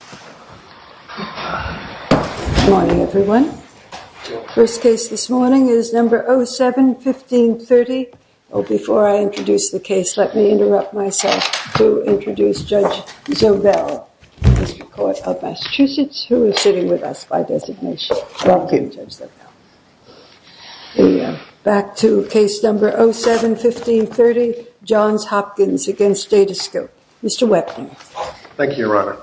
Good morning everyone. First case this morning is number 07-1530. Before I introduce the case, let me interrupt myself to introduce Judge Zobell, District Court of Massachusetts, who is sitting with us by designation. Back to case number 07-1530, Johns Hopkins v. Datascope. Mr. Wepner. Thank you, Your Honor.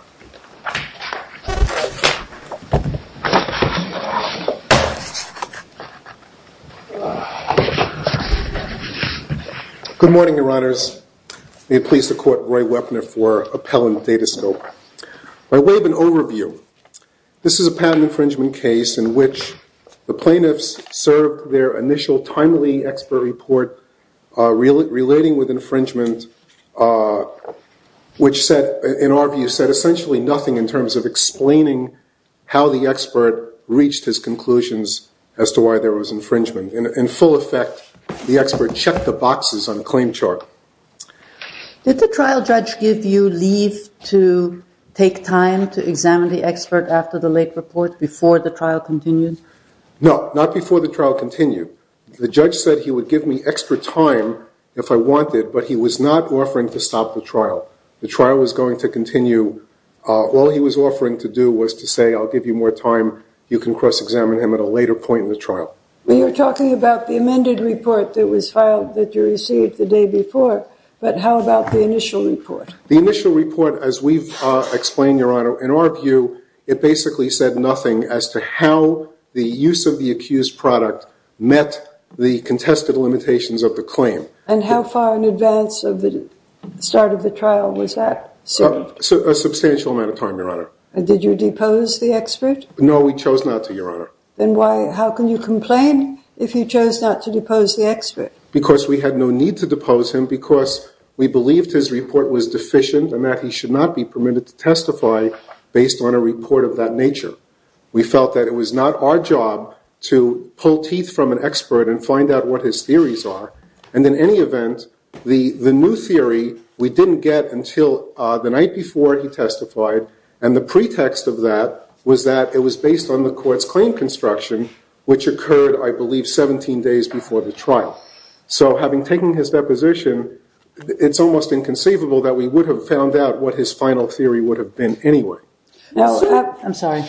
Good morning, Your Honors. May it please the Court, Roy Wepner for Appellant, Datascope. By way of an overview, this is a patent infringement case in which the plaintiffs served their initial timely expert report relating with infringement, which in our view said essentially nothing in terms of explaining how the expert reached his conclusions as to why there was infringement. In full effect, the expert checked the boxes on the claim chart. Did the trial judge give you leave to take time to examine the expert after the late report, before the trial continued? No, not before the trial continued. The judge said he would give me extra time if I wanted, but he was not offering to stop the trial. The trial was going to continue. All he was offering to do was to say, I'll give you more time, you can cross-examine him at a later point in the trial. You're talking about the amended report that was filed that you received the day before, but how about the initial report? The initial report, as we've explained, Your Honor, in our view, it basically said nothing as to how the use of the accused product met the contested limitations of the claim. And how far in advance of the start of the trial was that? A substantial amount of time, Your Honor. Did you depose the expert? No, we chose not to, Your Honor. Then how can you complain if you chose not to depose the expert? Because we had no need to depose him because we believed his report was deficient and that he should not be permitted to testify based on a report of that nature. We felt that it was not our job to pull teeth from an expert and find out what his theories are. And in any event, the new theory we didn't get until the night before he testified, and the pretext of that was that it was based on the court's claim construction, which occurred, I believe, 17 days before the trial. So having taken his deposition, it's almost inconceivable that we would have found out what his final theory would have been anyway. I'm sorry.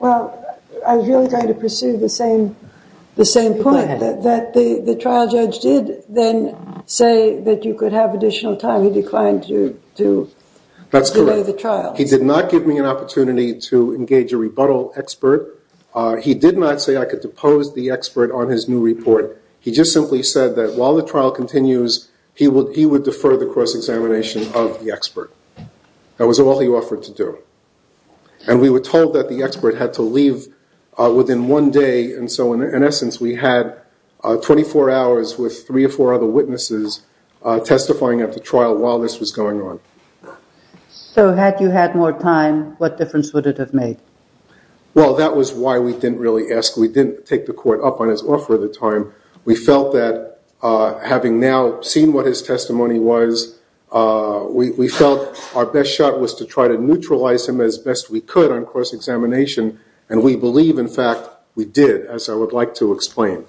Well, I was really going to pursue the same point, that the trial judge did then say that you could have additional time. He declined to delay the trial. That's correct. He did not give me an opportunity to engage a rebuttal expert. He did not say I could depose the expert on his new report. He just simply said that while the trial continues, he would defer the cross-examination of the expert. That was all he offered to do. And we were told that the expert had to leave within one day, and so in essence we had 24 hours with three or four other witnesses testifying at the trial while this was going on. So had you had more time, what difference would it have made? Well, that was why we didn't really ask. We felt that having now seen what his testimony was, we felt our best shot was to try to neutralize him as best we could on cross-examination, and we believe, in fact, we did, as I would like to explain.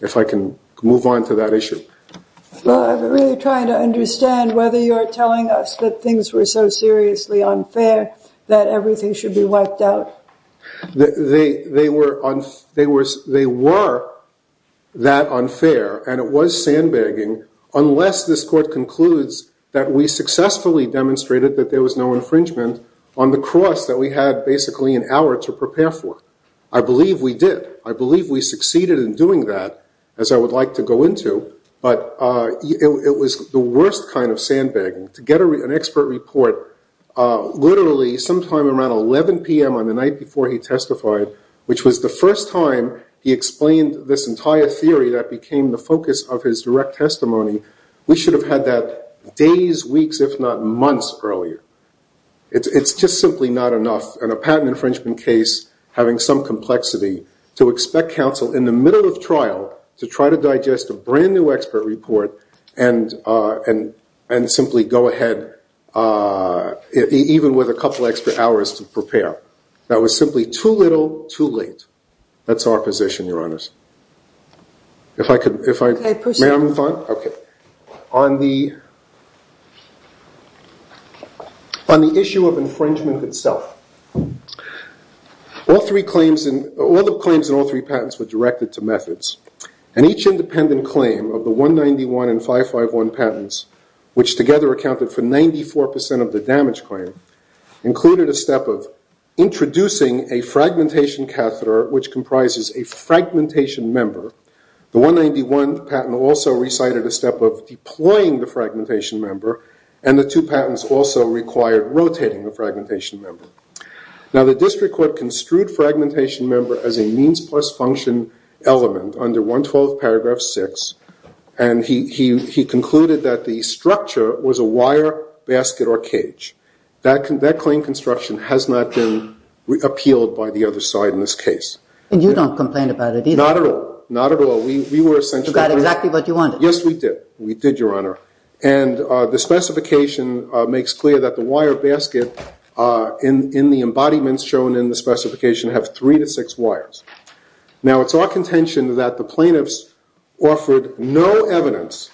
If I can move on to that issue. I'm really trying to understand whether you're telling us that things were so seriously unfair that everything should be wiped out. They were that unfair, and it was sandbagging, unless this court concludes that we successfully demonstrated that there was no infringement on the cross that we had basically an hour to prepare for. I believe we did. I believe we succeeded in doing that, as I would like to go into, but it was the worst kind of sandbagging to get an expert report literally sometime around 11 p.m. on the night before he testified, which was the first time he explained this entire theory that became the focus of his direct testimony. We should have had that days, weeks, if not months earlier. It's just simply not enough in a patent infringement case having some complexity to expect counsel in the middle of trial to try to digest a brand-new expert report and simply go ahead even with a couple extra hours to prepare. That was simply too little, too late. That's our position, Your Honors. May I move on? On the issue of infringement itself, all the claims in all three patents were directed to methods, and each independent claim of the 191 and 551 patents, which together accounted for 94 percent of the damage claim, included a step of introducing a fragmentation catheter, which comprises a fragmentation member. The 191 patent also recited a step of deploying the fragmentation member, and the two patents also required rotating the fragmentation member. Now, the district court construed fragmentation member as a means plus function element under 112 paragraph 6, and he concluded that the structure was a wire basket or cage. That claim construction has not been appealed by the other side in this case. And you don't complain about it either? Not at all. Not at all. You got exactly what you wanted. Yes, we did. We did, Your Honor. And the specification makes clear that the wire basket in the embodiments shown in the specification have three to six wires. Now, it's our contention that the plaintiffs offered no evidence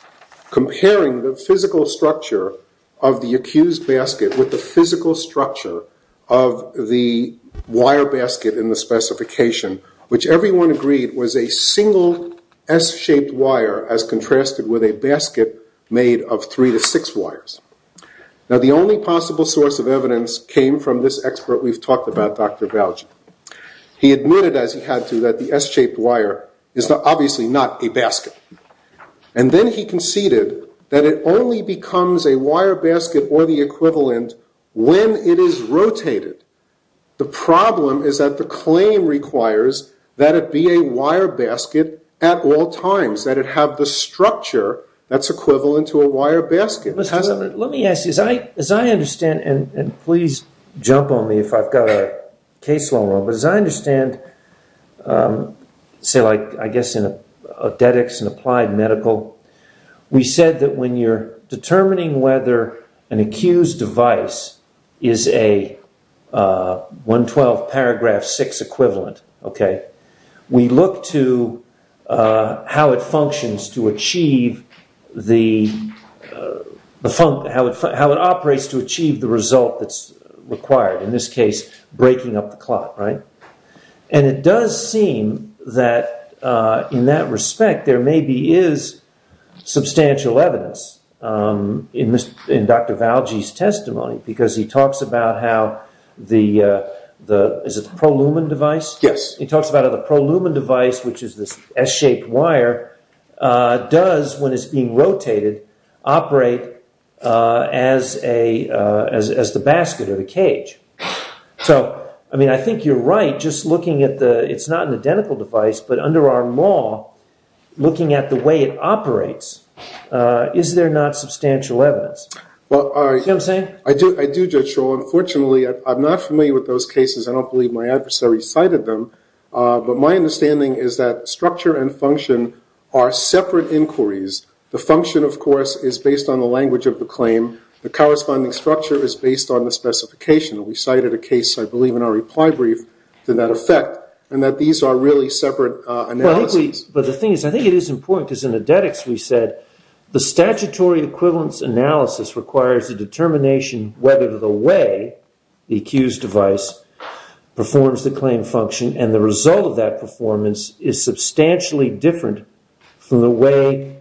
comparing the physical structure of the accused basket with the physical structure of the wire basket in the specification, which everyone agreed was a single S-shaped wire as contrasted with a basket made of three to six wires. Now, the only possible source of evidence came from this expert we've talked about, Dr. Valje. He admitted, as he had to, that the S-shaped wire is obviously not a basket. And then he conceded that it only becomes a wire basket or the equivalent when it is rotated. The problem is that the claim requires that it be a wire basket at all times, that it have the structure that's equivalent to a wire basket. Let me ask you, as I understand, and please jump on me if I've got a case long enough, but as I understand, say, like, I guess, in Odetics and Applied Medical, we said that when you're determining whether an accused device is a 112 paragraph 6 equivalent, we look to how it functions to achieve the... how it operates to achieve the result that's required, in this case, breaking up the clot, right? And it does seem that, in that respect, there maybe is substantial evidence in Dr. Valje's testimony because he talks about how the... is it the pro-lumen device? Yes. He talks about how the pro-lumen device, which is this S-shaped wire, does, when it's being rotated, operate as the basket or the cage. So, I mean, I think you're right, just looking at the... it's not an identical device, but under our law, looking at the way it operates, is there not substantial evidence? Well, I... See what I'm saying? I do, Judge Scholl. Unfortunately, I'm not familiar with those cases. I don't believe my adversary cited them. But my understanding is that structure and function are separate inquiries. The function, of course, is based on the language of the claim. The corresponding structure is based on the specification. We cited a case, I believe, in our reply brief to that effect, and that these are really separate analyses. Well, I think we... But the thing is, I think it is important, because in Edetics we said, the statutory equivalence analysis requires a determination whether the way the accused device performs the claim function, and the result of that performance is substantially different from the way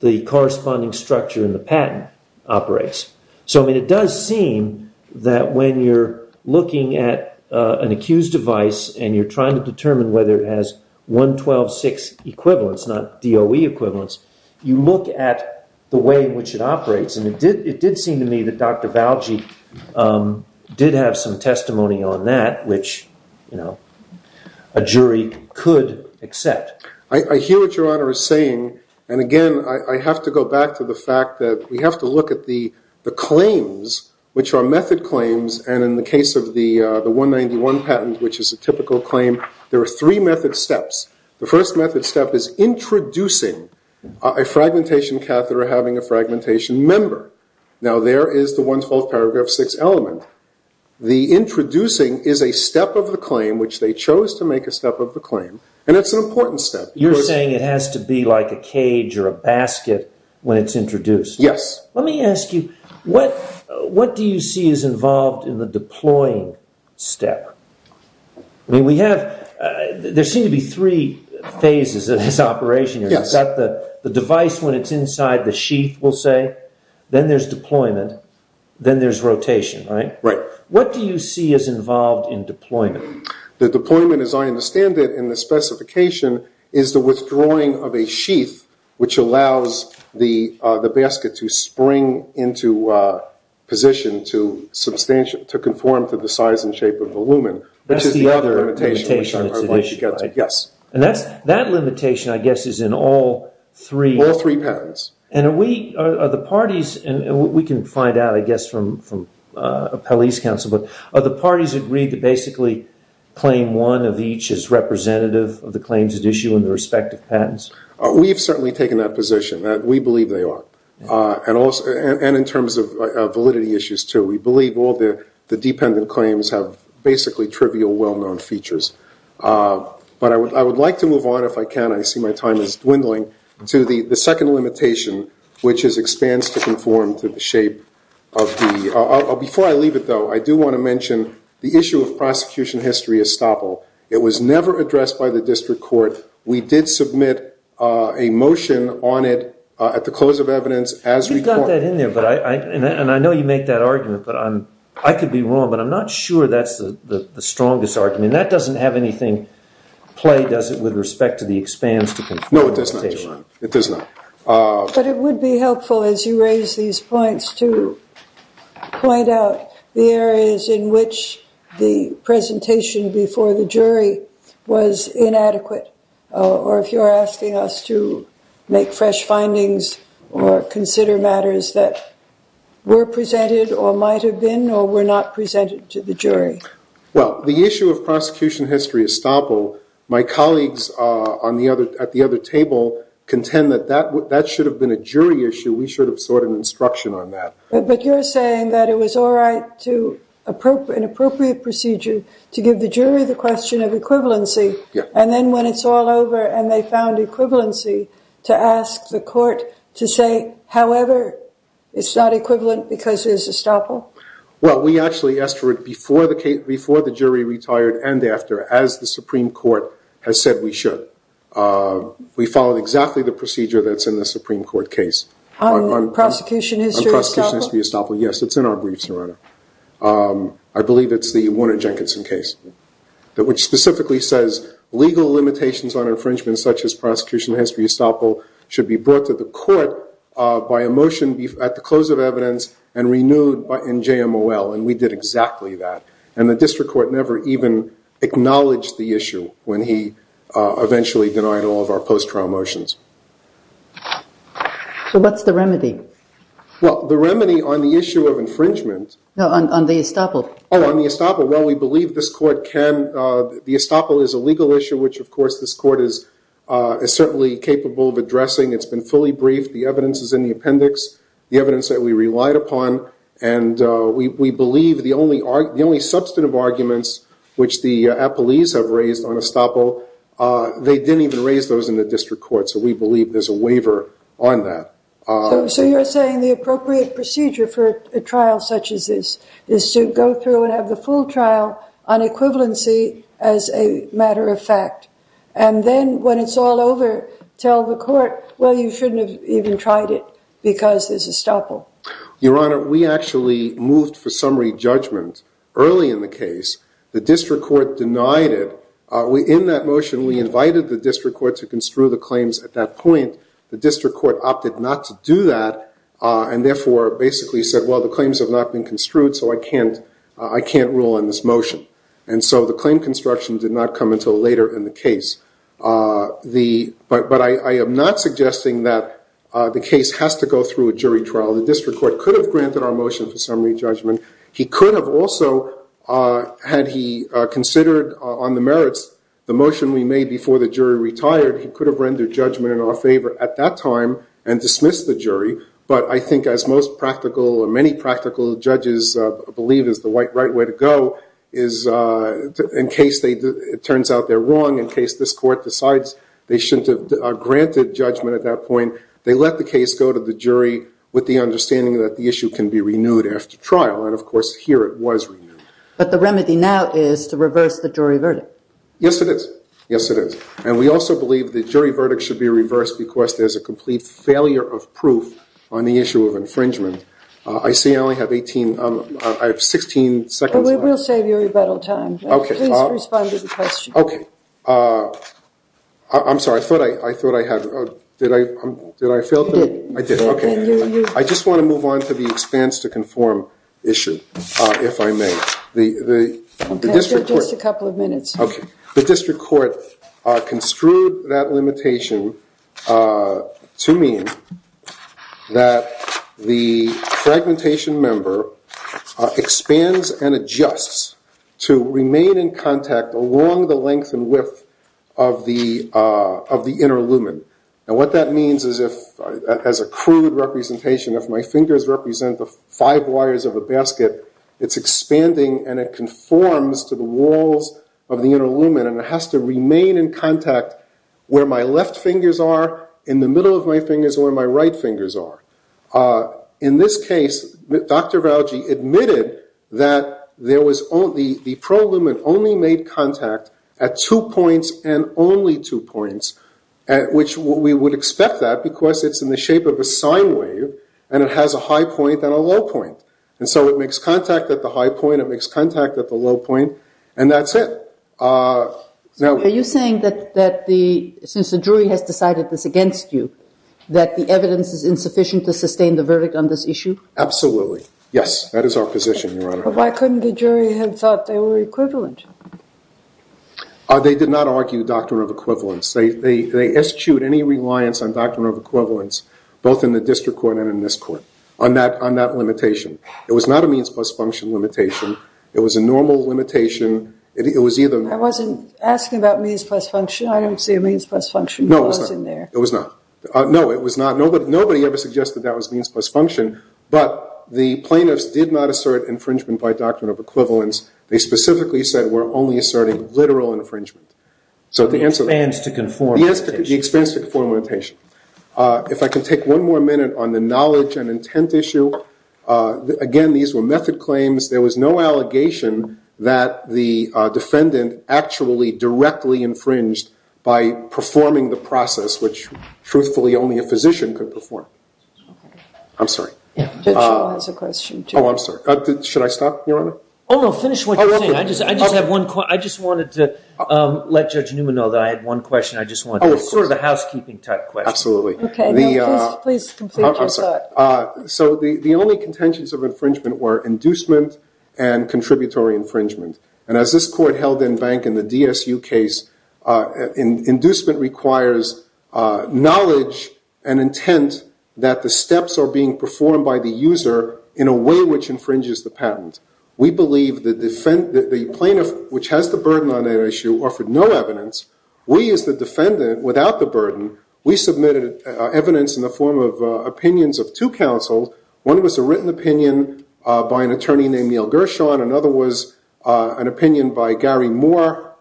the corresponding structure in the patent operates. So, I mean, it does seem that when you're looking at an accused device and you're trying to determine whether it has 112.6 equivalence, not DOE equivalence, you look at the way in which it operates. And it did seem to me that Dr. Valjeet did have some testimony on that, which a jury could accept. I hear what Your Honor is saying. And, again, I have to go back to the fact that we have to look at the claims, which are method claims, and in the case of the 191 patent, which is a typical claim, there are three method steps. The first method step is introducing a fragmentation catheter having a fragmentation member. Now, there is the 112.6 element. The introducing is a step of the claim, which they chose to make a step of the claim, and it's an important step. You're saying it has to be like a cage or a basket when it's introduced? Yes. Let me ask you, what do you see is involved in the deploying step? I mean, we have – there seem to be three phases in this operation. Yes. Is that the device when it's inside the sheath, we'll say? Then there's deployment. Then there's rotation, right? Right. What do you see is involved in deployment? The deployment, as I understand it in the specification, is the withdrawing of a sheath, which allows the basket to spring into position to conform to the size and shape of the lumen. That's the other limitation that's at issue, right? Yes. And that limitation, I guess, is in all three? All three patents. And are the parties – and we can find out, I guess, from a police counsel, but are the parties agreed to basically claim one of each as representative of the claims at issue in the respective patents? We've certainly taken that position. We believe they are. And in terms of validity issues, too. We believe all the dependent claims have basically trivial, well-known features. But I would like to move on, if I can. I see my time is dwindling. To the second limitation, which is expands to conform to the shape of the – before I leave it, though, I do want to mention the issue of prosecution history estoppel. It was never addressed by the district court. We did submit a motion on it at the close of evidence as required. You've got that in there, and I know you make that argument, but I could be wrong, but I'm not sure that's the strongest argument. That doesn't have anything to play, does it, with respect to the expands to conform limitation? No, it does not. It does not. But it would be helpful, as you raise these points, to point out the areas in which the presentation before the jury was inadequate, or if you're asking us to make fresh findings or consider matters that were presented or might have been or were not presented to the jury. Well, the issue of prosecution history estoppel, my colleagues at the other table contend that that should have been a jury issue. We should have sought an instruction on that. But you're saying that it was all right to – an appropriate procedure to give the jury the question of equivalency, and then when it's all over and they found equivalency to ask the court to say, however, it's not equivalent because there's estoppel? Well, we actually asked for it before the jury retired and after, as the Supreme Court has said we should. We followed exactly the procedure that's in the Supreme Court case. On prosecution history estoppel? On prosecution history estoppel, yes. It's in our briefs, Your Honor. I believe it's the Warner Jenkinson case, which specifically says legal limitations on infringement, such as prosecution history estoppel, should be brought to the court by a motion at the close of evidence and renewed in JMOL, and we did exactly that. And the district court never even acknowledged the issue when he eventually denied all of our post-trial motions. So what's the remedy? Well, the remedy on the issue of infringement – No, on the estoppel. Oh, on the estoppel. Well, we believe this court can – the estoppel is a legal issue, which, of course, this court is certainly capable of addressing. It's been fully briefed. The evidence is in the appendix, the evidence that we relied upon, and we believe the only substantive arguments, which the appellees have raised on estoppel, they didn't even raise those in the district court, so we believe there's a waiver on that. So you're saying the appropriate procedure for a trial such as this is to go through and have the full trial on equivalency as a matter of fact, and then, when it's all over, tell the court, well, you shouldn't have even tried it because there's estoppel. Your Honor, we actually moved for summary judgment early in the case. The district court denied it. In that motion, we invited the district court to construe the claims at that point. The district court opted not to do that and therefore basically said, well, the claims have not been construed, so I can't rule on this motion. And so the claim construction did not come until later in the case. But I am not suggesting that the case has to go through a jury trial. The district court could have granted our motion for summary judgment. He could have also, had he considered on the merits the motion we made before the jury retired, he could have rendered judgment in our favor at that time and dismissed the jury. But I think, as most practical or many practical judges believe is the right way to go, is in case it turns out they're wrong, in case this court decides they shouldn't have granted judgment at that point, they let the case go to the jury with the understanding that the issue can be renewed after trial. And, of course, here it was renewed. But the remedy now is to reverse the jury verdict. Yes, it is. Yes, it is. And we also believe the jury verdict should be reversed because there's a complete failure of proof on the issue of infringement. I see I only have 16 seconds left. We'll save you rebuttal time. Please respond to the question. Okay. I'm sorry, I thought I had, did I fail? You did. I did, okay. I just want to move on to the expanse to conform issue, if I may. Just a couple of minutes. Okay. The district court construed that limitation to mean that the fragmentation member expands and adjusts to remain in contact along the length and width of the inner lumen. And what that means is if, as a crude representation, if my fingers represent the five wires of a basket, it's expanding and it conforms to the walls of the inner lumen, and it has to remain in contact where my left fingers are, in the middle of my fingers, where my right fingers are. In this case, Dr. Valji admitted that there was only, the pro lumen only made contact at two points and only two points, which we would expect that because it's in the shape of a sine wave and it has a high point and a low point. And so it makes contact at the high point, it makes contact at the low point, and that's it. Are you saying that the, since the jury has decided this against you, that the evidence is insufficient to sustain the verdict on this issue? Absolutely. Yes, that is our position, Your Honor. But why couldn't the jury have thought they were equivalent? They did not argue doctrine of equivalence. They eschewed any reliance on doctrine of equivalence, both in the district court and in this court, on that limitation. It was not a means plus function limitation. It was a normal limitation. It was either. I wasn't asking about means plus function. I don't see a means plus function clause in there. No, it was not. Nobody ever suggested that was means plus function, but the plaintiffs did not assert infringement by doctrine of equivalence. They specifically said we're only asserting literal infringement. So the answer is. The expense to conform limitation. Yes, the expense to conform limitation. If I can take one more minute on the knowledge and intent issue. Again, these were method claims. There was no allegation that the defendant actually directly infringed by performing the process, which truthfully only a physician could perform. I'm sorry. Judge Shaw has a question, too. Oh, I'm sorry. Should I stop, Your Honor? Oh, no. Finish what you're saying. I just have one question. I just wanted to let Judge Newman know that I had one question I just wanted to ask. Oh, of course. It's sort of a housekeeping type question. Absolutely. Okay. Please complete your thought. I'm sorry. So the only contentions of infringement were inducement and contributory infringement. And as this court held in bank in the DSU case, inducement requires knowledge and intent that the steps are being performed by the user in a way which infringes the patent. We believe the plaintiff, which has the burden on that issue, offered no evidence. We as the defendant, without the burden, we submitted evidence in the form of opinions of two counsels. One was a written opinion by an attorney named Neil Gershon. Another was an opinion by Gary Moore,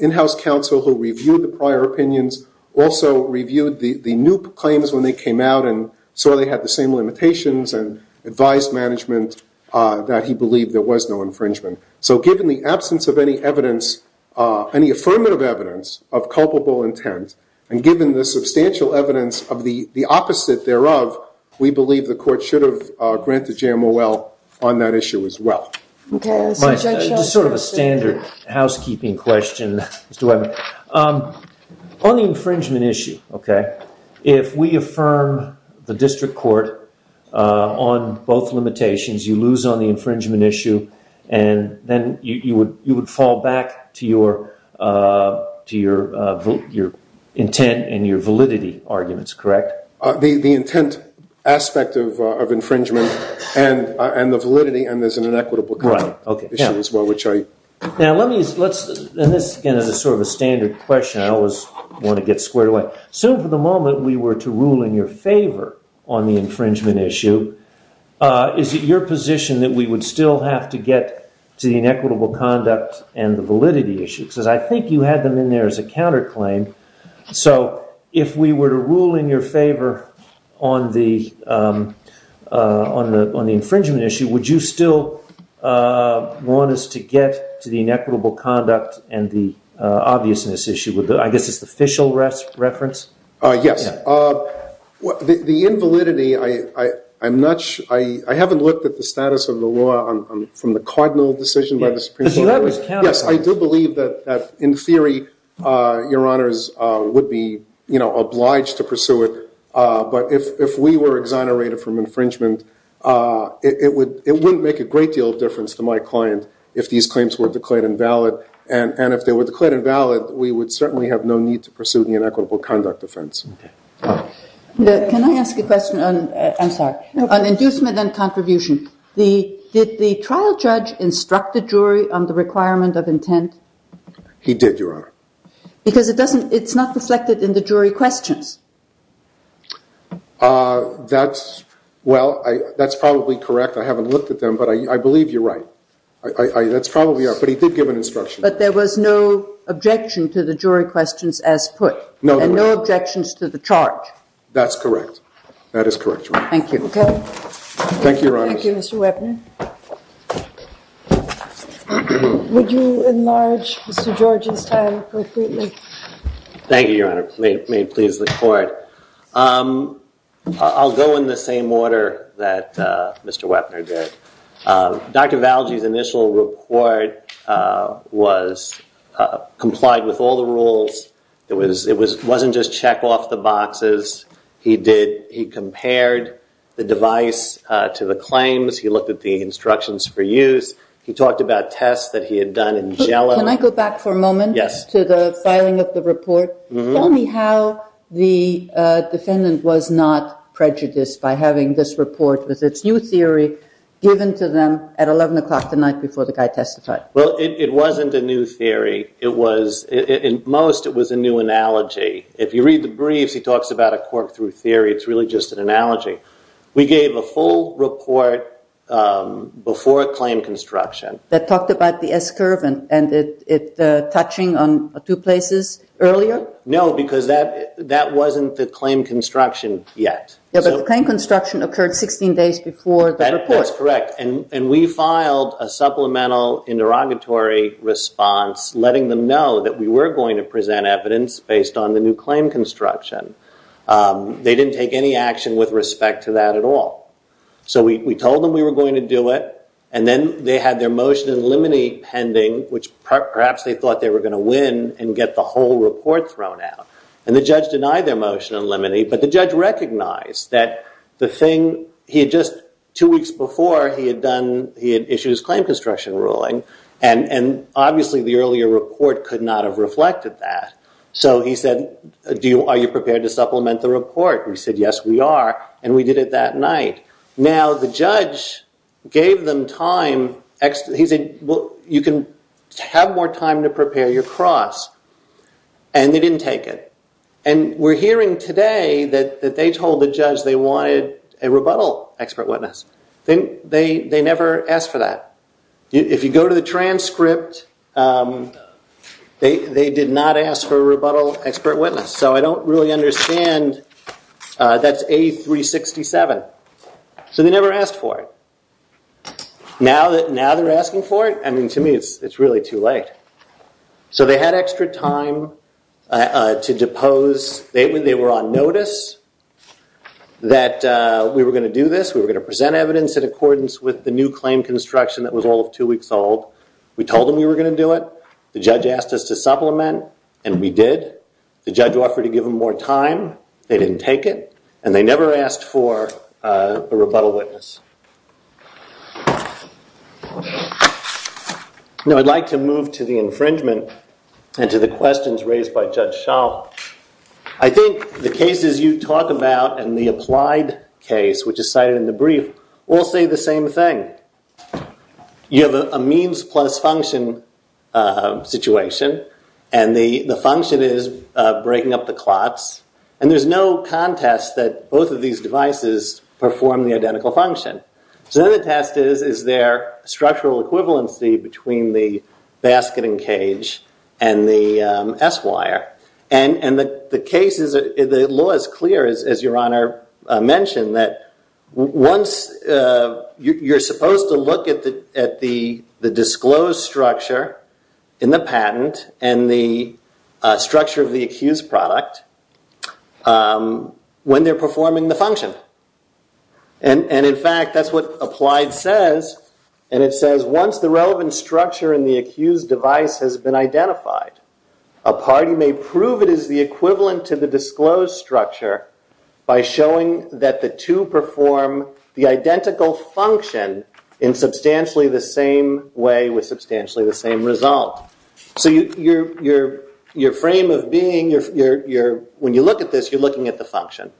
in-house counsel who reviewed the prior opinions, also reviewed the new claims when they came out and saw they had the same limitations and advised management that he believed there was no infringement. So given the absence of any evidence, any affirmative evidence of culpable intent, and given the substantial evidence of the opposite thereof, we believe the court should have granted JMOL on that issue as well. Just sort of a standard housekeeping question, Mr. Webber. On the infringement issue, okay, if we affirm the district court on both limitations, you lose on the infringement issue, and then you would fall back to your intent and your validity arguments, correct? The intent aspect of infringement and the validity, and there's an inequitable kind of issue as well, which I – Now, let me – and this, again, is sort of a standard question I always want to get squared away. Assume for the moment we were to rule in your favor on the infringement issue, is it your position that we would still have to get to the inequitable conduct and the validity issue? Because I think you had them in there as a counterclaim. So if we were to rule in your favor on the infringement issue, would you still want us to get to the inequitable conduct and the obviousness issue? I guess it's the official reference? Yes. The invalidity, I'm not – I haven't looked at the status of the law from the cardinal decision by the Supreme Court. Yes, I do believe that in theory your honors would be, you know, obliged to pursue it. But if we were exonerated from infringement, it wouldn't make a great deal of difference to my client if these claims were declared invalid. And if they were declared invalid, we would certainly have no need to pursue the inequitable conduct offense. Can I ask a question on – I'm sorry – on inducement and contribution? Did the trial judge instruct the jury on the requirement of intent? He did, your honor. Because it doesn't – it's not reflected in the jury questions. That's – well, that's probably correct. I haven't looked at them, but I believe you're right. That's probably right, but he did give an instruction. But there was no objection to the jury questions as put? No. And no objections to the charge? That's correct. That is correct, your honor. Thank you. Okay. Thank you, your honors. Thank you, Mr. Wepner. Would you enlarge Mr. George's time appropriately? Thank you, your honor. May it please the court. I'll go in the same order that Mr. Wepner did. Dr. Valji's initial report was – complied with all the rules. It was – it wasn't just check off the boxes. He did – he compared the device to the claims. He looked at the instructions for use. He talked about tests that he had done in Gelen. Can I go back for a moment? Yes. To the filing of the report? Tell me how the defendant was not prejudiced by having this report with its new theory given to them at 11 o'clock the night before the guy testified. Well, it wasn't a new theory. It was – in most, it was a new analogy. If you read the briefs, he talks about a quirk through theory. It's really just an analogy. We gave a full report before a claim construction. That talked about the S-curve and it touching on two places earlier? No, because that wasn't the claim construction yet. Yeah, but the claim construction occurred 16 days before the report. That's correct. And we filed a supplemental interrogatory response letting them know that we were going to present evidence based on the new claim construction. They didn't take any action with respect to that at all. So we told them we were going to do it, and then they had their motion in limine pending, which perhaps they thought they were going to win and get the whole report thrown out. And the judge denied their motion in limine, but the judge recognized that the thing – he had just two weeks before he had done – he had issued his claim construction ruling, and obviously the earlier report could not have reflected that. So he said, are you prepared to supplement the report? We said, yes, we are, and we did it that night. Now, the judge gave them time – he said, well, you can have more time to prepare your cross. And they didn't take it. And we're hearing today that they told the judge they wanted a rebuttal expert witness. They never asked for that. If you go to the transcript, they did not ask for a rebuttal expert witness. So I don't really understand. That's A367. So they never asked for it. Now they're asking for it? I mean, to me, it's really too late. So they had extra time to depose – they were on notice that we were going to do this, we were going to present evidence in accordance with the new claim construction that was all of two weeks old. We told them we were going to do it. The judge asked us to supplement, and we did. The judge offered to give them more time. They didn't take it, and they never asked for a rebuttal witness. Now I'd like to move to the infringement and to the questions raised by Judge Shaw. I think the cases you talk about and the applied case, which is cited in the brief, all say the same thing. You have a means plus function situation, and the function is breaking up the clots. And there's no contest that both of these devices perform the identical function. So then the test is, is there structural equivalency between the basket and cage and the S-wire? And the law is clear, as Your Honor mentioned, that you're supposed to look at the disclosed structure in the patent and the structure of the accused product when they're performing the function. And in fact, that's what applied says. And it says, once the relevant structure in the accused device has been identified, a party may prove it is the equivalent to the disclosed structure by showing that the two perform the identical function in substantially the same way with substantially the same result. So your frame of being, when you look at this, you're looking at the function.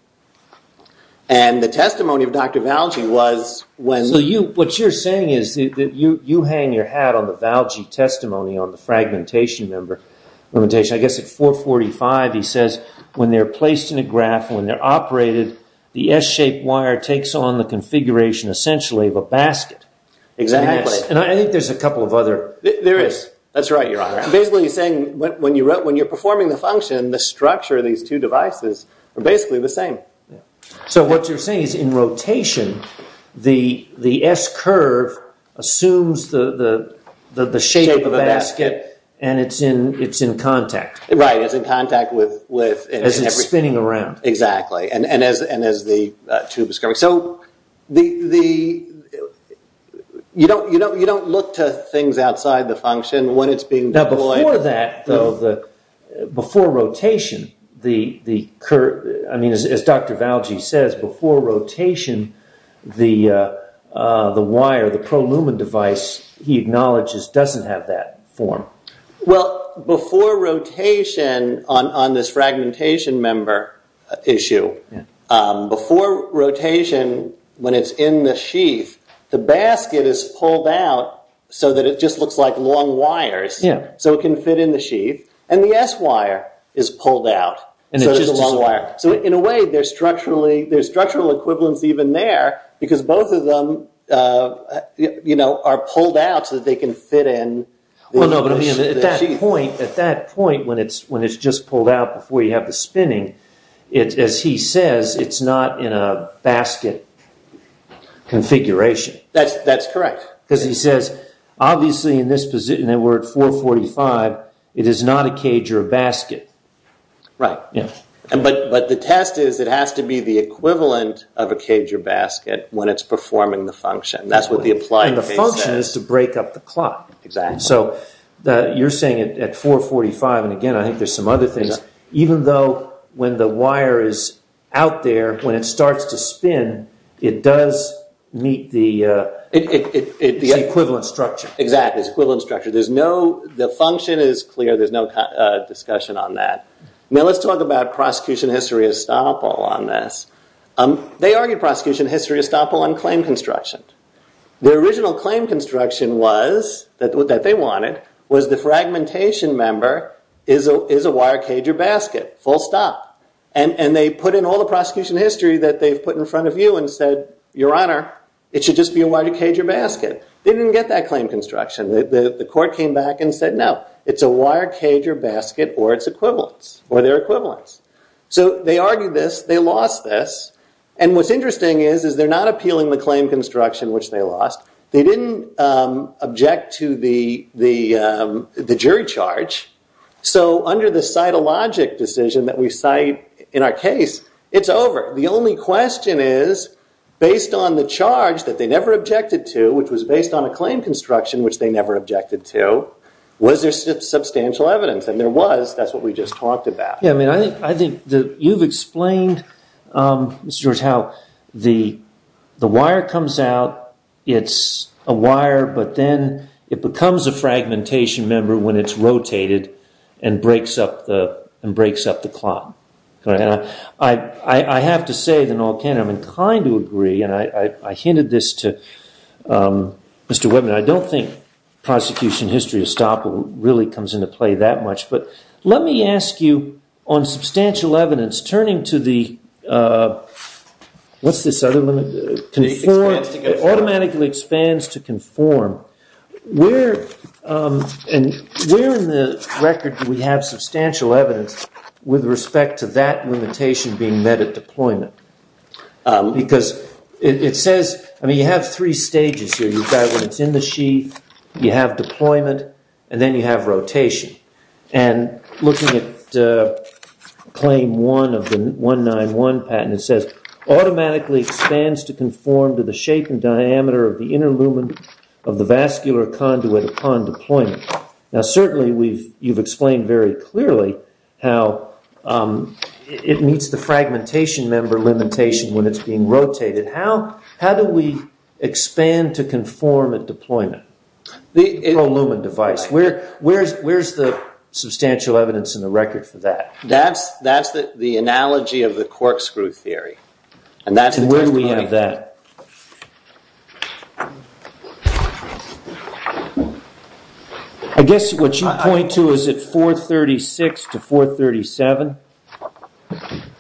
And the testimony of Dr. Valji was when... So what you're saying is that you hang your hat on the Valji testimony on the fragmentation limitation. I guess at 445 he says, when they're placed in a graph, when they're operated, the S-shaped wire takes on the configuration, essentially, of a basket. Exactly. And I think there's a couple of other... There is. That's right, Your Honor. Basically, he's saying when you're performing the function, the structure of these two devices are basically the same. So what you're saying is in rotation, the S-curve assumes the shape of a basket and it's in contact. Right, it's in contact with... As it's spinning around. Exactly. And as the tube is coming. So you don't look to things outside the function when it's being deployed. Now before that, though, before rotation, as Dr. Valji says, before rotation, the wire, the pro-lumen device, he acknowledges doesn't have that form. Well, before rotation, on this fragmentation member issue, before rotation, when it's in the sheath, the basket is pulled out so that it just looks like long wires, so it can fit in the sheath. And the S-wire is pulled out, so it's a long wire. So in a way, there's structural equivalence even there, because both of them are pulled out so that they can fit in. Well, no, but at that point, when it's just pulled out before you have the spinning, as he says, it's not in a basket configuration. That's correct. Because he says, obviously in this position, we're at 445, it is not a cage or a basket. Right. But the test is it has to be the equivalent of a cage or basket when it's performing the function. And that's what the applied case says. And the function is to break up the clock. Exactly. So you're saying at 445, and again, I think there's some other things, even though when the wire is out there, when it starts to spin, it does meet the equivalent structure. Exactly. It's equivalent structure. The function is clear. There's no discussion on that. Now, let's talk about prosecution history estoppel on this. They argue prosecution history estoppel on claim construction. The original claim construction that they wanted was the fragmentation member is a wire cage or basket, full stop. And they put in all the prosecution history that they've put in front of you and said, your honor, it should just be a wire cage or basket. They didn't get that claim construction. The court came back and said, no, it's a wire cage or basket or its equivalents, or their equivalents. So they argued this. They lost this. And what's interesting is they're not appealing the claim construction, which they lost. They didn't object to the jury charge. So under the cytologic decision that we cite in our case, it's over. The only question is, based on the charge that they never objected to, which was based on a claim construction, which they never objected to, was there substantial evidence? And there was. That's what we just talked about. Yeah, I mean, I think that you've explained, Mr. George, how the wire comes out. It's a wire, but then it becomes a fragmentation member when it's rotated and breaks up the clock. I have to say that I'm inclined to agree. And I hinted this to Mr. Whitman. I don't think prosecution history estoppel really comes into play that much. But let me ask you, on substantial evidence, turning to the – what's this other one? It automatically expands to conform. Where in the record do we have substantial evidence with respect to that limitation being met at deployment? Because it says – I mean, you have three stages here. You've got when it's in the sheath, you have deployment, and then you have rotation. And looking at claim one of the 191 patent, it says, automatically expands to conform to the shape and diameter of the inner lumen of the vascular conduit upon deployment. Now, certainly you've explained very clearly how it meets the fragmentation member limitation when it's being rotated. How do we expand to conform at deployment? The inner lumen device. Where's the substantial evidence in the record for that? That's the analogy of the corkscrew theory. And where do we have that? Where do we have that? I guess what you point to is at 436 to 437. 437.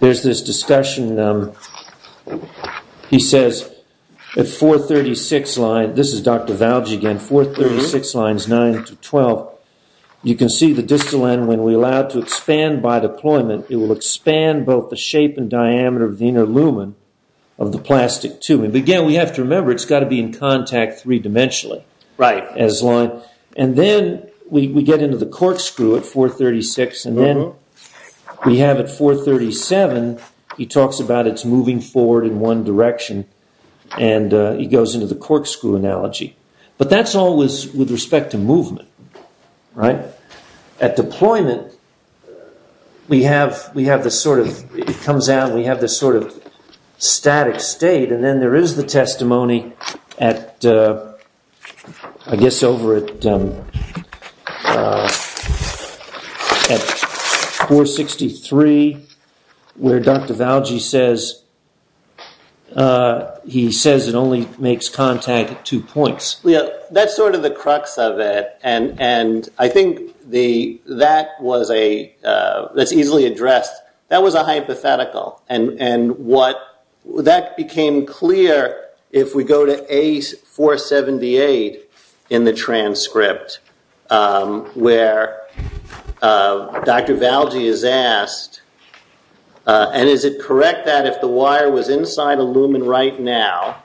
There's this discussion. He says at 436 lines – this is Dr. Valji again – 436 lines 9 to 12, you can see the distal end when we allow it to expand by deployment, it will expand both the shape and diameter of the inner lumen of the plastic tubing. Again, we have to remember it's got to be in contact three-dimensionally. And then we get into the corkscrew at 436, and then we have at 437, he talks about it's moving forward in one direction, and he goes into the corkscrew analogy. But that's always with respect to movement. At deployment, it comes out, we have this sort of static state, and then there is the testimony, I guess over at 463, where Dr. Valji says it only makes contact at two points. That's sort of the crux of it, and I think that's easily addressed. That was a hypothetical. And that became clear if we go to A478 in the transcript, where Dr. Valji is asked, and is it correct that if the wire was inside a lumen right now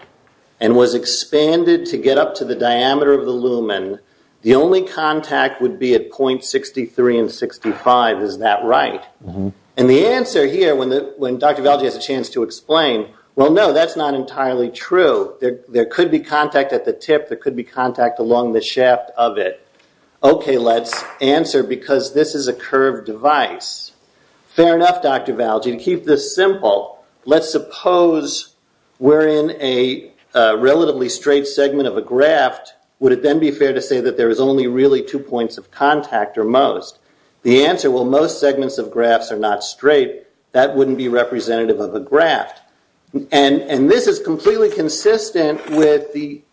and was expanded to get up to the diameter of the lumen, the only contact would be at point 63 and 65, is that right? And the answer here, when Dr. Valji has a chance to explain, well, no, that's not entirely true. There could be contact at the tip. There could be contact along the shaft of it. Okay, let's answer because this is a curved device. Fair enough, Dr. Valji, to keep this simple. Let's suppose we're in a relatively straight segment of a graft. Would it then be fair to say that there is only really two points of contact or most? The answer, well, most segments of grafts are not straight. That wouldn't be representative of a graft. And this is completely consistent with the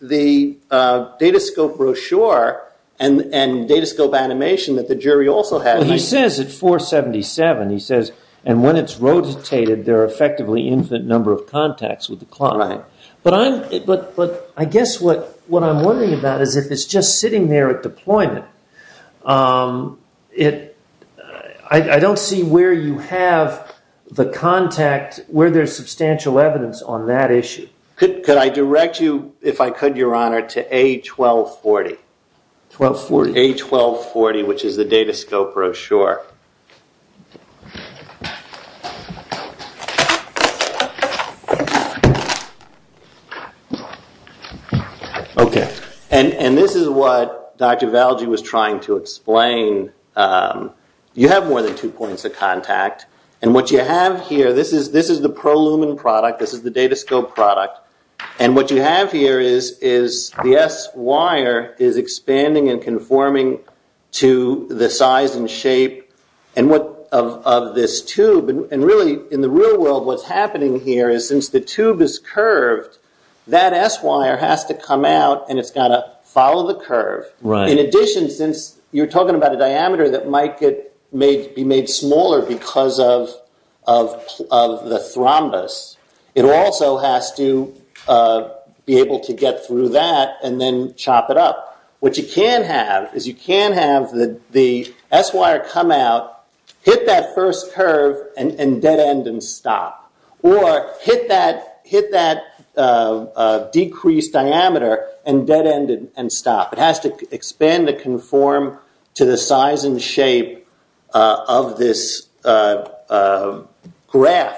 Datascope brochure and Datascope animation that the jury also had. He says at 477, he says, and when it's rotatated there are effectively infinite number of contacts with the clot. But I guess what I'm wondering about is if it's just sitting there at deployment, I don't see where you have the contact, where there's substantial evidence on that issue. Could I direct you, if I could, Your Honor, to A1240? A1240. A1240, which is the Datascope brochure. Okay. And this is what Dr. Valji was trying to explain. You have more than two points of contact. And what you have here, this is the ProLumen product. This is the Datascope product. And what you have here is the S wire is expanding and conforming to the size and shape of this tube. And really, in the real world, what's happening here is since the tube is curved, that S wire has to come out and it's got to follow the curve. In addition, since you're talking about a diameter that might be made smaller because of the thrombus, it also has to be able to get through that and then chop it up. What you can have is you can have the S wire come out, hit that first curve, and dead end and stop. Or hit that decreased diameter and dead end and stop. It has to expand and conform to the size and shape of this graph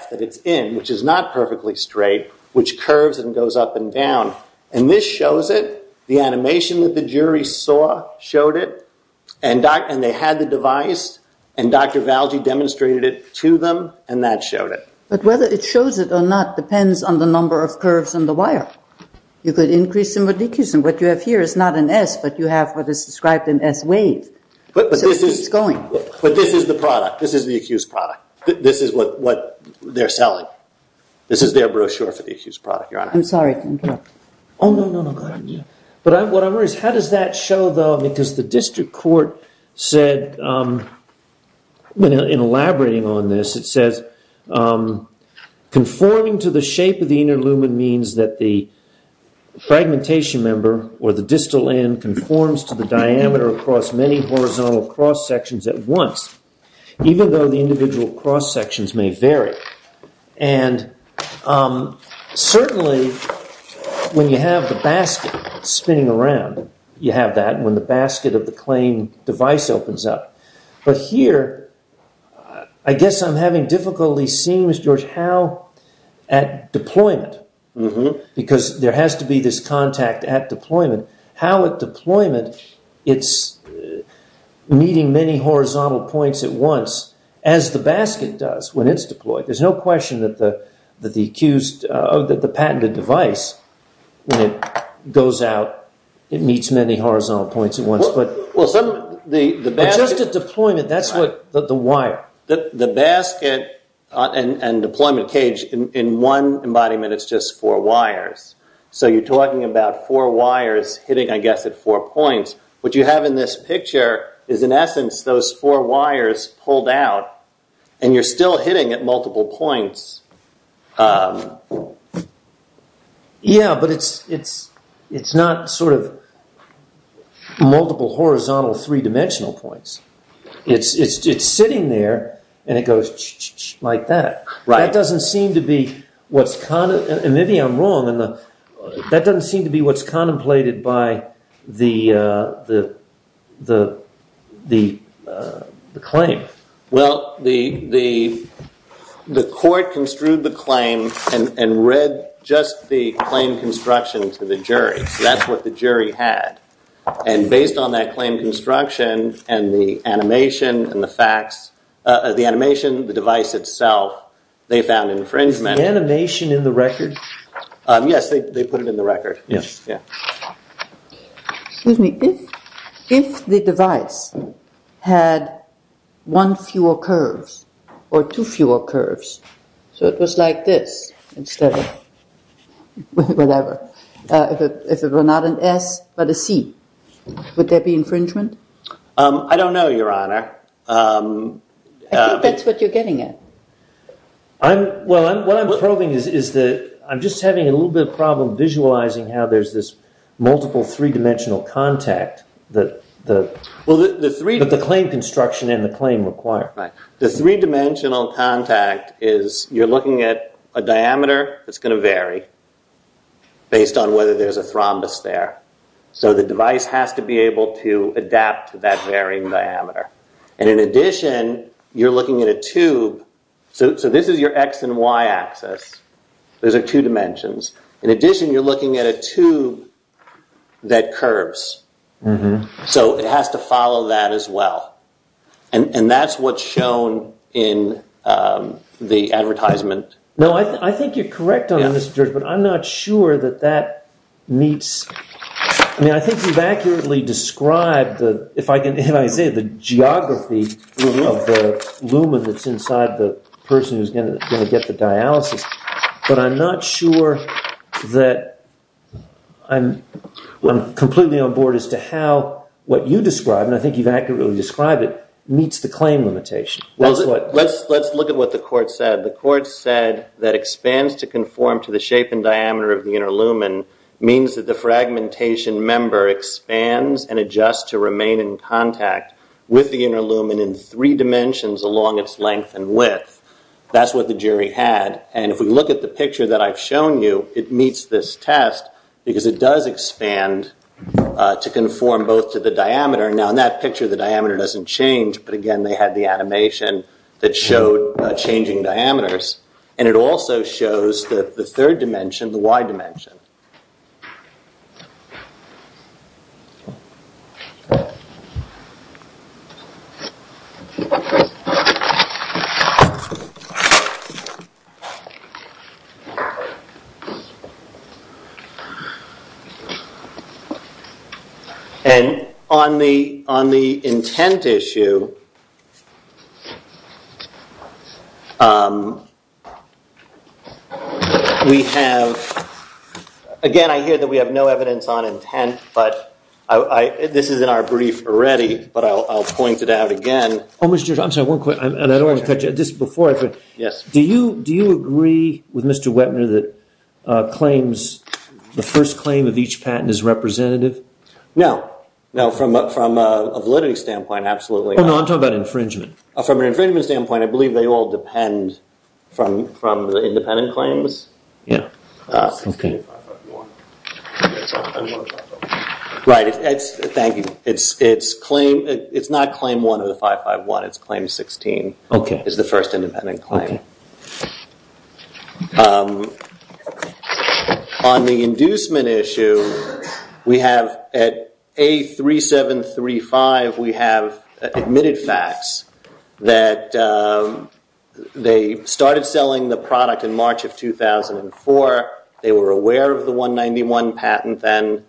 that it's in, which is not perfectly straight, which curves and goes up and down. And this shows it. The animation that the jury saw showed it. And they had the device. And Dr. Valje demonstrated it to them. And that showed it. But whether it shows it or not depends on the number of curves in the wire. You could increase the modicum. What you have here is not an S, but you have what is described in S wave. But this is the product. This is the accused product. This is what they're selling. This is their brochure for the accused product, Your Honor. I'm sorry. Oh, no, no, no. What I'm worried about is how does that show, though? Because the district court said, in elaborating on this, it says, conforming to the shape of the inner lumen means that the fragmentation member or the distal end conforms to the diameter across many horizontal cross sections at once, even though the individual cross sections may vary. And certainly, when you have the basket spinning around, you have that when the basket of the claim device opens up. But here, I guess I'm having difficulty seeing, Mr. George, how at deployment, because there has to be this contact at deployment, how at deployment it's meeting many horizontal points at once, as the basket does when it's deployed. There's no question that the patented device, when it goes out, it meets many horizontal points at once. But just at deployment, that's what the wire. The basket and deployment cage, in one embodiment, it's just four wires. So you're talking about four wires hitting, I guess, at four points. What you have in this picture is, in essence, those four wires pulled out, and you're still hitting at multiple points. Yeah, but it's not sort of multiple horizontal three-dimensional points. It's sitting there, and it goes like that. That doesn't seem to be what's contemplated by the claim. Well, the court construed the claim and read just the claim construction to the jury. That's what the jury had. Based on that claim construction and the animation and the facts, the animation, the device itself, they found infringement. The animation in the record? Yes, they put it in the record. Excuse me. If the device had one fewer curves or two fewer curves, so it was like this instead of whatever, if it were not an S but a C, would there be infringement? I don't know, Your Honor. I think that's what you're getting at. Well, what I'm probing is that I'm just having a little bit of a problem visualizing how there's this multiple three-dimensional contact that the claim construction and the claim require. The three-dimensional contact is you're looking at a diameter that's going to vary based on whether there's a thrombus there. The device has to be able to adapt to that varying diameter. In addition, you're looking at a tube. This is your X and Y axis. Those are two dimensions. In addition, you're looking at a tube that curves. It has to follow that as well. That's what's shown in the advertisement. No, I think you're correct on this, Judge, but I'm not sure that that meets. I think you've accurately described, if I can say, the geography of the lumen that's inside the person who's going to get the dialysis, but I'm not sure that I'm completely on board as to how what you describe, and I think you've accurately described it, meets the claim limitation. Let's look at what the court said. The court said that expands to conform to the shape and diameter of the inner lumen means that the fragmentation member expands and adjusts to remain in contact with the inner lumen in three dimensions along its length and width. That's what the jury had. If we look at the picture that I've shown you, it meets this test because it does expand to conform both to the diameter. Now, in that picture, the diameter doesn't change, but again, they had the animation that showed changing diameters, and it also shows the third dimension, the Y dimension. On the intent issue, we have, again, I hear that we have no evidence on intent, but this is in our brief already, but I'll point it out again. Oh, Mr. George, I'm sorry, one quick, and I don't want to cut you. This is before I finish. Yes. Do you agree with Mr. Wettner that claims, the first claim of each patent is representative? No. No, from a validity standpoint, absolutely not. Oh, no, I'm talking about infringement. From an infringement standpoint, I believe they all depend from the independent claims. Okay. Right, thank you. It's not claim one of the 551, it's claim 16, is the first independent claim. Okay. On the inducement issue, we have at A3735, we have admitted facts that they started selling the product in March of 2004. They were aware of the 191 patent, and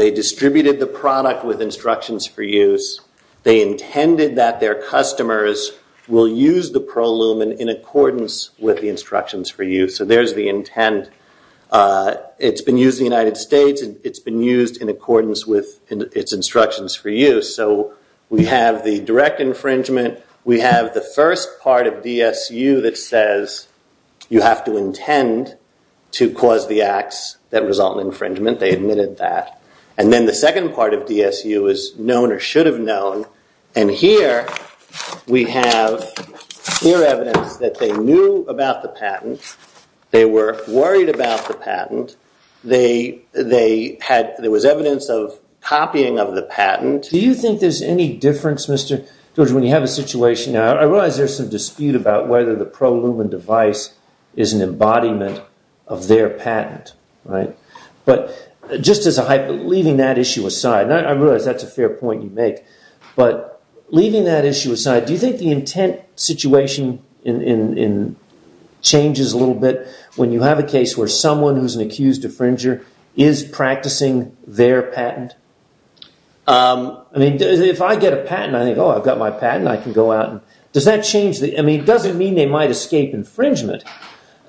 they distributed the product with instructions for use. They intended that their customers will use the ProLumen in accordance with the instructions for use. So there's the intent. It's been used in the United States, and it's been used in accordance with its instructions for use. So we have the direct infringement. We have the first part of DSU that says you have to intend to cause the acts that result in infringement. They admitted that. And then the second part of DSU is known or should have known. And here we have clear evidence that they knew about the patent. They were worried about the patent. There was evidence of copying of the patent. Do you think there's any difference, Mr. George, when you have a situation? Now, I realize there's some dispute about whether the ProLumen device is an embodiment of their patent, right? But just as a hypo, leaving that issue aside, and I realize that's a fair point you make, but leaving that issue aside, do you think the intent situation changes a little bit when you have a case where someone who's an accused infringer is practicing their patent? I mean, if I get a patent, I think, oh, I've got my patent. I can go out. I mean, it doesn't mean they might escape infringement,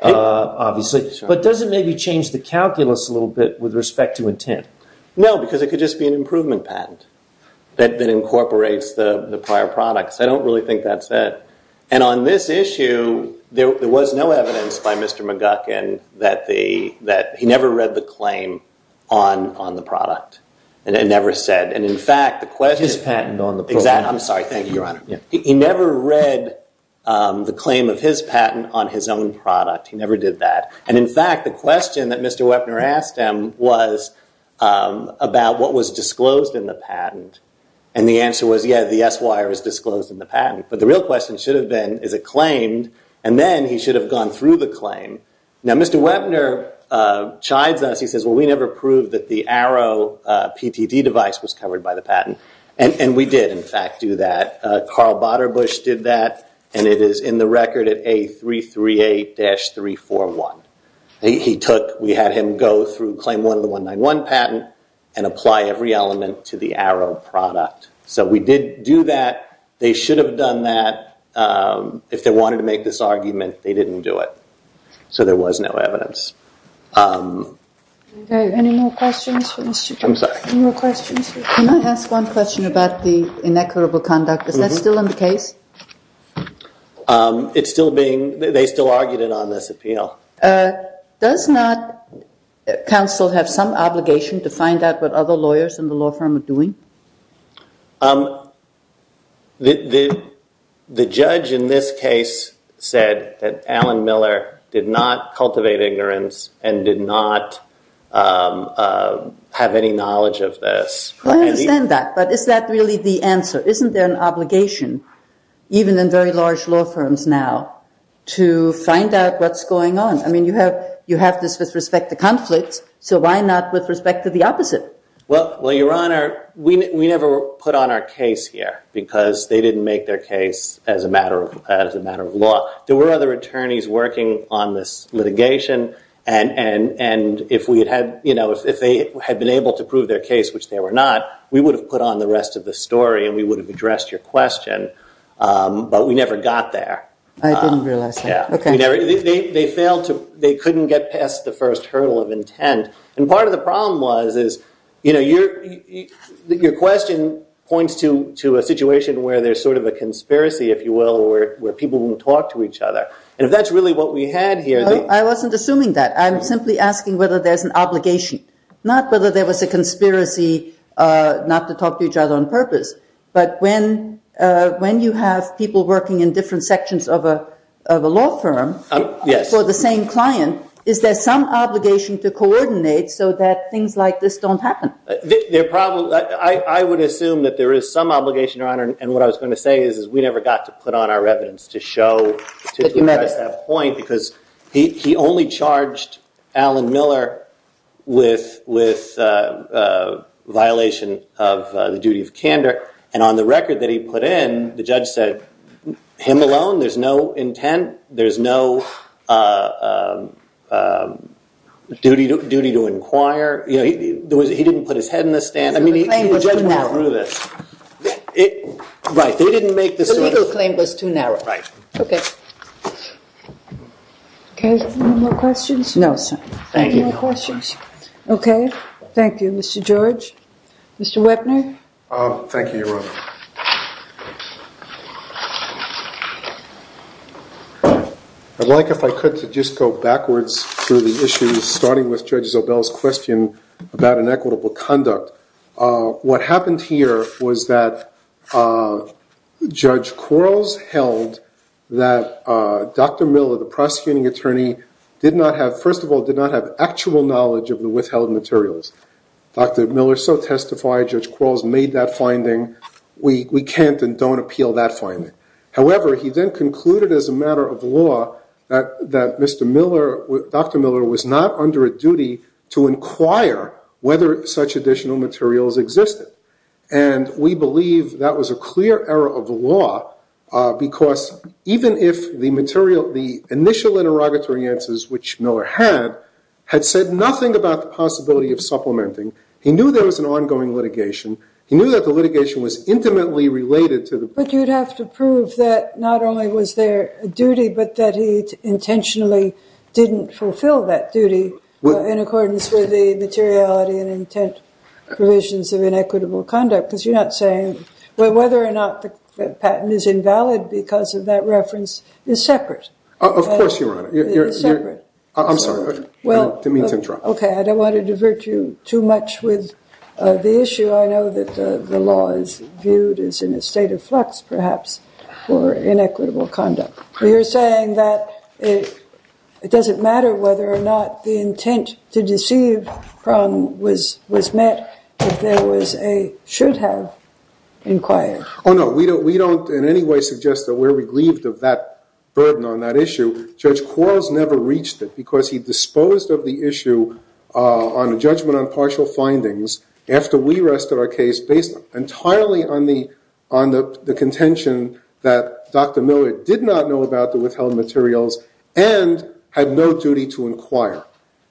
obviously, but does it maybe change the calculus a little bit with respect to intent? No, because it could just be an improvement patent that incorporates the prior products. I don't really think that's it. And on this issue, there was no evidence by Mr. McGuckin that he never read the claim on the product. It never said. His patent on the product. Exactly. I'm sorry. Thank you, Your Honor. He never read the claim of his patent on his own product. He never did that. And, in fact, the question that Mr. Wepner asked him was about what was disclosed in the patent, and the answer was, yeah, the S-wire is disclosed in the patent. But the real question should have been, is it claimed? And then he should have gone through the claim. Now, Mr. Wepner chides us. He says, well, we never proved that the Arrow PTD device was covered by the patent. And we did, in fact, do that. Carl Baderbusch did that, and it is in the record at A338-341. We had him go through claim one of the 191 patent and apply every element to the Arrow product. So we did do that. They should have done that if they wanted to make this argument. They didn't do it. So there was no evidence. Are there any more questions for Mr. Wepner? I'm sorry. Any more questions? Can I ask one question about the inequitable conduct? Is that still in the case? It's still being – they still argued it on this appeal. Does not counsel have some obligation to find out what other lawyers in the law firm are doing? The judge in this case said that Alan Miller did not cultivate ignorance and did not have any knowledge of this. I understand that, but is that really the answer? Isn't there an obligation, even in very large law firms now, to find out what's going on? I mean, you have this with respect to conflict, so why not with respect to the opposite? Well, Your Honor, we never put on our case here because they didn't make their case as a matter of law. There were other attorneys working on this litigation, and if they had been able to prove their case, which they were not, we would have put on the rest of the story and we would have addressed your question. But we never got there. I didn't realize that. They failed to – they couldn't get past the first hurdle of intent. And part of the problem was is, you know, your question points to a situation where there's sort of a conspiracy, if you will, where people don't talk to each other. And if that's really what we had here – I wasn't assuming that. I'm simply asking whether there's an obligation, not whether there was a conspiracy not to talk to each other on purpose, but when you have people working in different sections of a law firm for the same client, is there some obligation to coordinate so that things like this don't happen? I would assume that there is some obligation, Your Honor, and what I was going to say is we never got to put on our evidence to show that point because he only charged Alan Miller with violation of the duty of candor. And on the record that he put in, the judge said, him alone, there's no intent, there's no duty to inquire. He didn't put his head in the stand. The claim was too narrow. Right. The legal claim was too narrow. Right. Okay. Okay. Any more questions? No, sir. Thank you, Your Honor. Any more questions? Okay. Thank you, Mr. George. Mr. Wepner? Thank you, Your Honor. I'd like, if I could, to just go backwards through the issues, starting with Judge Zobel's question about inequitable conduct. What happened here was that Judge Quarles held that Dr. Miller, the prosecuting attorney, did not have, first of all, did not have actual knowledge of the withheld materials. Dr. Miller so testified. Judge Quarles made that finding. We can't and don't appeal that finding. However, he then concluded as a matter of law that Dr. Miller was not under a duty to inquire whether such additional materials existed. And we believe that was a clear error of the law, because even if the initial interrogatory answers, which Miller had, had said nothing about the possibility of supplementing, he knew there was an ongoing litigation. He knew that the litigation was intimately related to the ---- intentionally didn't fulfill that duty in accordance with the materiality and intent provisions of inequitable conduct, because you're not saying whether or not the patent is invalid because of that reference is separate. Of course, Your Honor. It's separate. I'm sorry. Demean to interrupt. Okay. I don't want to divert you too much with the issue. I know that the law is viewed as in a state of flux, perhaps, for inequitable conduct. You're saying that it doesn't matter whether or not the intent to deceive was met if there was a should-have inquiry. Oh, no. We don't in any way suggest that we're reglieved of that burden on that issue. Judge Quarles never reached it, because he disposed of the issue on a judgment on partial findings after we submitted an expert report on validity, and we submitted an expert report on validity on the contention that Dr. Miller did not know about the withheld materials and had no duty to inquire.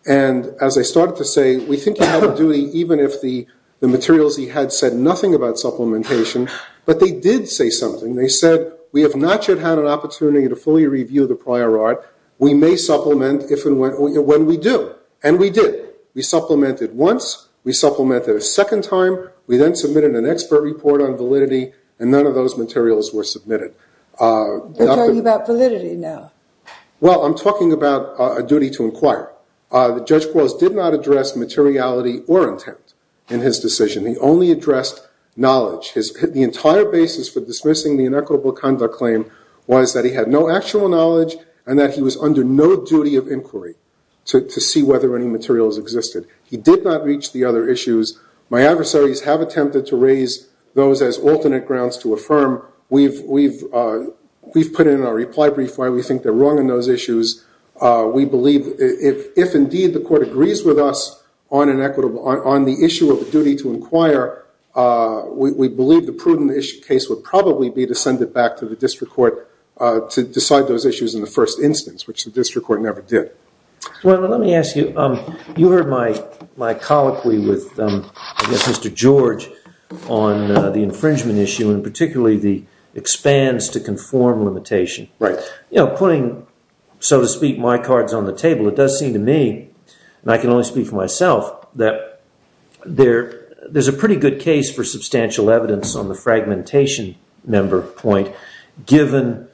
And as I started to say, we think he had a duty even if the materials he had said nothing about supplementation. But they did say something. They said, we have not yet had an opportunity to fully review the prior art. We may supplement when we do. And we did. We supplemented once. We supplemented a second time. We then submitted an expert report on validity, and none of those materials were submitted. You're talking about validity now. Well, I'm talking about a duty to inquire. Judge Quarles did not address materiality or intent in his decision. He only addressed knowledge. The entire basis for dismissing the inequitable conduct claim was that he had no actual knowledge and that he was under no duty of inquiry to see whether any materials existed. He did not reach the other issues. My adversaries have attempted to raise those as alternate grounds to affirm. We've put in our reply brief why we think they're wrong in those issues. We believe if indeed the court agrees with us on the issue of a duty to inquire, we believe the prudent case would probably be to send it back to the district court to decide those issues in the first instance, which the district court never did. Well, let me ask you, you heard my colloquy with, I guess, Mr. George on the infringement issue, and particularly the expands to conform limitation. Right. You know, putting, so to speak, my cards on the table, it does seem to me, and I can only speak for myself, that there's a pretty good case for substantial evidence on the fragmentation member point, given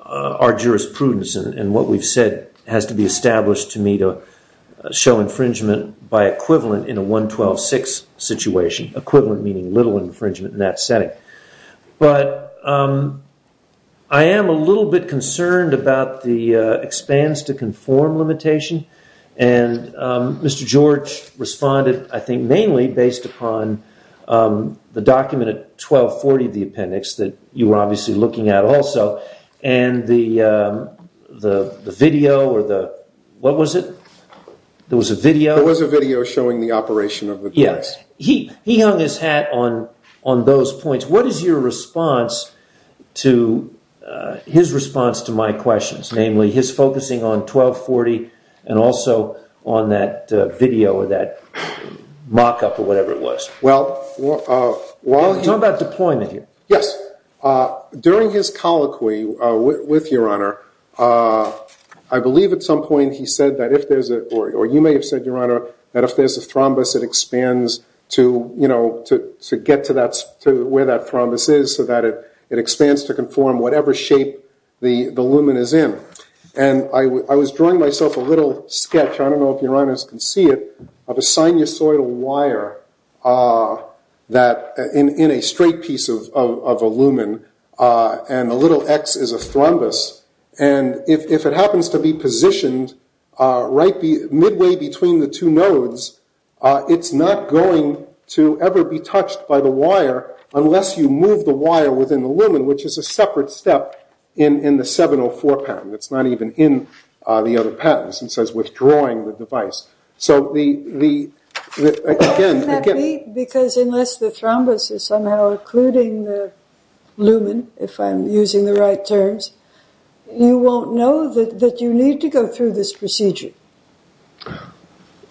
our jurisprudence and what we've said has to be established to me to show infringement by equivalent in a 112-6 situation, equivalent meaning little infringement in that setting. But I am a little bit concerned about the expands to conform limitation. And Mr. George responded, I think, mainly based upon the document at 1240 of the appendix that you were obviously looking at also. And the video or the, what was it? There was a video. There was a video showing the operation of the device. Yes. He hung his hat on those points. What is your response to his response to my questions, namely his focusing on 1240 and also on that video or that mock-up or whatever it was? Well, while he. Talk about deployment here. Yes. During his colloquy with Your Honor, I believe at some point he said that if there's a, or you may have said, Your Honor, that if there's a thrombus, it expands to get to where that thrombus is so that it expands to conform whatever shape the lumen is in. And I was drawing myself a little sketch, I don't know if Your Honors can see it, of a sinusoidal wire in a straight piece of a lumen. And the little X is a thrombus. And if it happens to be positioned midway between the two nodes, it's not going to ever be touched by the wire unless you move the wire within the lumen, which is a separate step in the 704 patent. It's not even in the other patents. It says withdrawing the device. So the, again. Because unless the thrombus is somehow including the lumen, if I'm using the right terms, you won't know that you need to go through this procedure.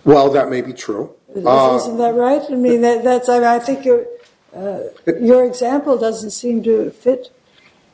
Well, that may be true. Isn't that right? I mean, I think your example doesn't seem to fit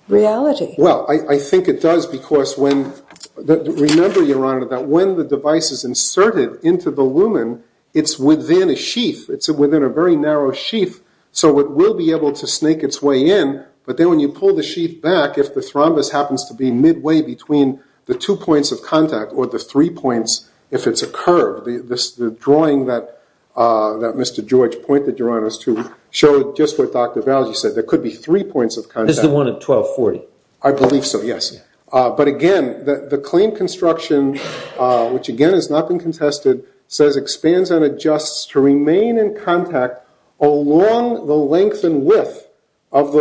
reality. Well, I think it does because when, remember, Your Honor, that when the device is inserted into the lumen, it's within a sheath. It's within a very narrow sheath. So it will be able to snake its way in. But then when you pull the sheath back, if the thrombus happens to be midway between the two points of contact or the three points, if it's a curve, the drawing that Mr. George pointed, Your Honors, to show just what Dr. Valji said, there could be three points of contact. This is the one at 1240. I believe so, yes. But, again, the claim construction, which, again, has not been contested, says expands and adjusts to remain in contact along the length and width of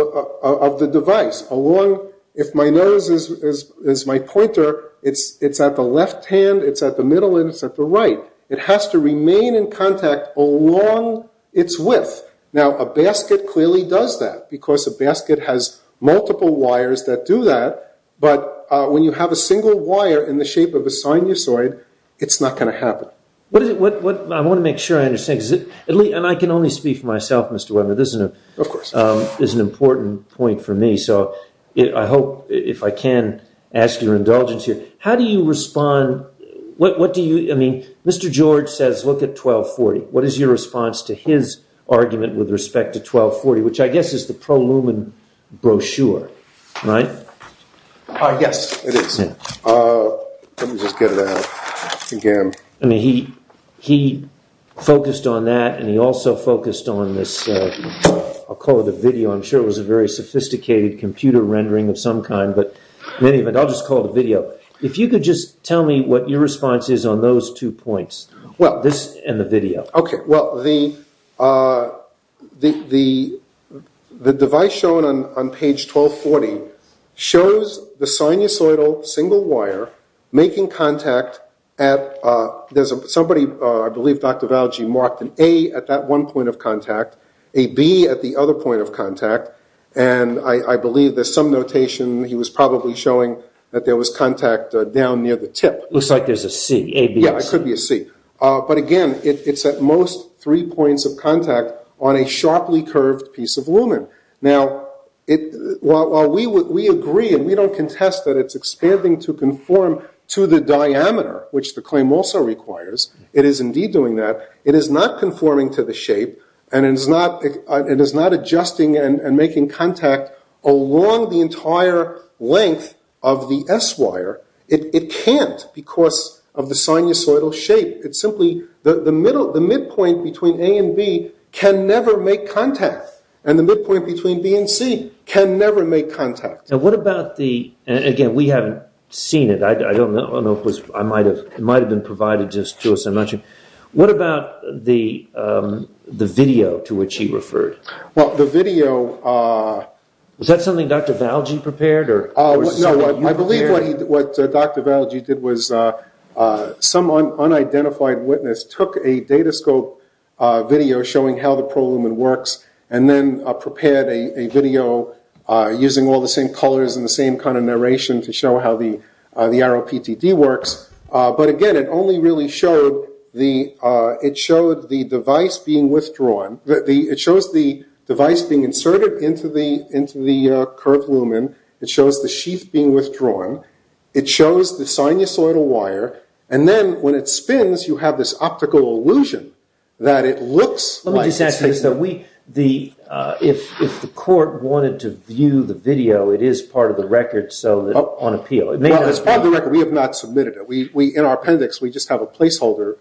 the device. If my nose is my pointer, it's at the left hand, it's at the middle, and it's at the right. It has to remain in contact along its width. Now, a basket clearly does that because a basket has multiple wires that do that. But when you have a single wire in the shape of a sinusoid, it's not going to happen. I want to make sure I understand. And I can only speak for myself, Mr. Weber. This is an important point for me. So I hope, if I can, ask your indulgence here. How do you respond? I mean, Mr. George says look at 1240. What is your response to his argument with respect to 1240, which I guess is the pro lumen brochure, right? Yes, it is. Let me just get it out again. He focused on that, and he also focused on this, I'll call it a video. I'm sure it was a very sophisticated computer rendering of some kind, but in any event, I'll just call it a video. If you could just tell me what your response is on those two points, this and the video. Okay. Well, the device shown on page 1240 shows the sinusoidal single wire making contact at somebody, I believe Dr. Valji marked an A at that one point of contact, a B at the other point of contact, and I believe there's some notation. He was probably showing that there was contact down near the tip. Yeah, it could be a C. But again, it's at most three points of contact on a sharply curved piece of lumen. Now, while we agree and we don't contest that it's expanding to conform to the diameter, which the claim also requires, it is indeed doing that, it is not conforming to the shape, and it is not adjusting and making contact along the entire length of the S wire. It can't because of the sinusoidal shape. It's simply the midpoint between A and B can never make contact, and the midpoint between B and C can never make contact. Now, what about the, and again, we haven't seen it. I don't know. It might have been provided just to us. I'm not sure. What about the video to which he referred? Well, the video. Was that something Dr. Valji prepared? No, I believe what Dr. Valji did was some unidentified witness took a Datascope video showing how the prolumen works and then prepared a video using all the same colors and the same kind of narration to show how the ROPTD works. But again, it only really showed the device being withdrawn. It shows the device being inserted into the curved lumen. It shows the sheath being withdrawn. It shows the sinusoidal wire. And then when it spins, you have this optical illusion that it looks like it's Let me just ask you this, though. If the court wanted to view the video, it is part of the record on appeal. Well, it's part of the record. We have not submitted it. In our appendix, we just have a placeholder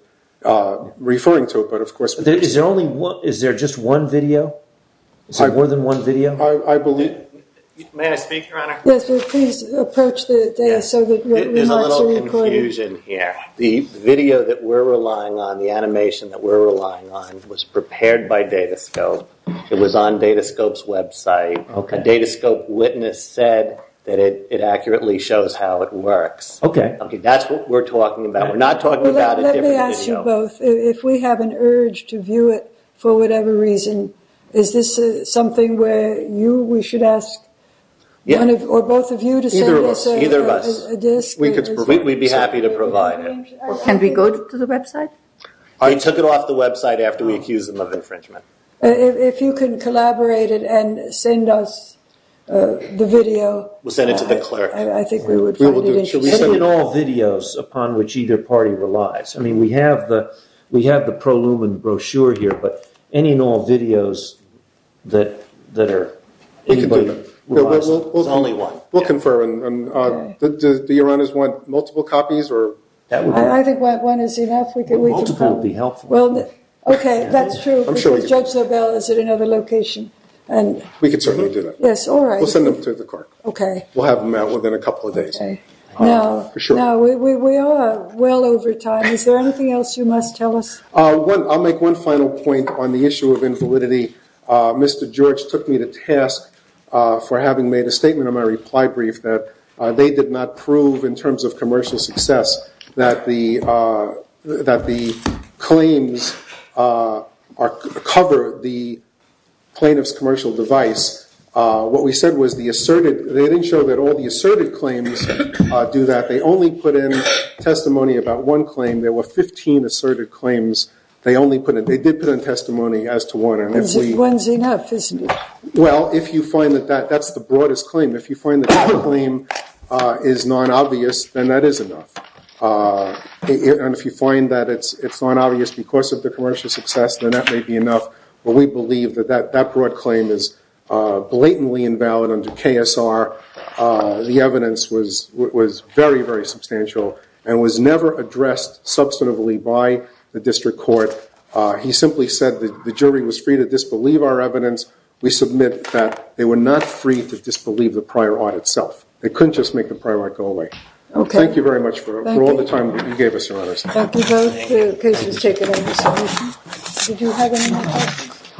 referring to it, but of course. Is there just one video? Is there more than one video? May I speak, Your Honor? Yes, please approach the desk so that the remarks are recorded. There's a little confusion here. The video that we're relying on, the animation that we're relying on, was prepared by Datascope. It was on Datascope's website. A Datascope witness said that it accurately shows how it works. Okay. That's what we're talking about. We're not talking about a different video. Let me ask you both. If we have an urge to view it for whatever reason, is this something where we should ask one or both of you to send us a disk? Either of us. We'd be happy to provide it. Can we go to the website? I took it off the website after we accused them of infringement. If you can collaborate and send us the video. We'll send it to the clerk. I think we would find it interesting. We submit all videos upon which either party relies. We have the pro lumen brochure here, but any and all videos that anybody relies on is only one. We'll confirm. Do your honors want multiple copies? I think one is enough. Multiple would be helpful. Okay. That's true because Judge LaBelle is at another location. We could certainly do that. Yes. All right. We'll send them to the clerk. Okay. We'll have them out within a couple of days. Now, we are well over time. Is there anything else you must tell us? I'll make one final point on the issue of invalidity. Mr. George took me to task for having made a statement on my reply brief that they did not prove, in terms of commercial success, that the claims cover the plaintiff's commercial device. What we said was they didn't show that all the asserted claims do that. They only put in testimony about one claim. There were 15 asserted claims. They did put in testimony as to one. One is enough, isn't it? Well, if you find that that's the broadest claim, if you find that that claim is non-obvious, then that is enough. If you find that it's non-obvious because of the commercial success, then that may be enough. But we believe that that broad claim is blatantly invalid under KSR. The evidence was very, very substantial and was never addressed substantively by the district court. He simply said the jury was free to disbelieve our evidence. We submit that they were not free to disbelieve the prior audit itself. They couldn't just make the prior audit go away. Thank you very much for all the time that you gave us, Your Honors. Thank you both. The case has taken over. Did you have any more questions?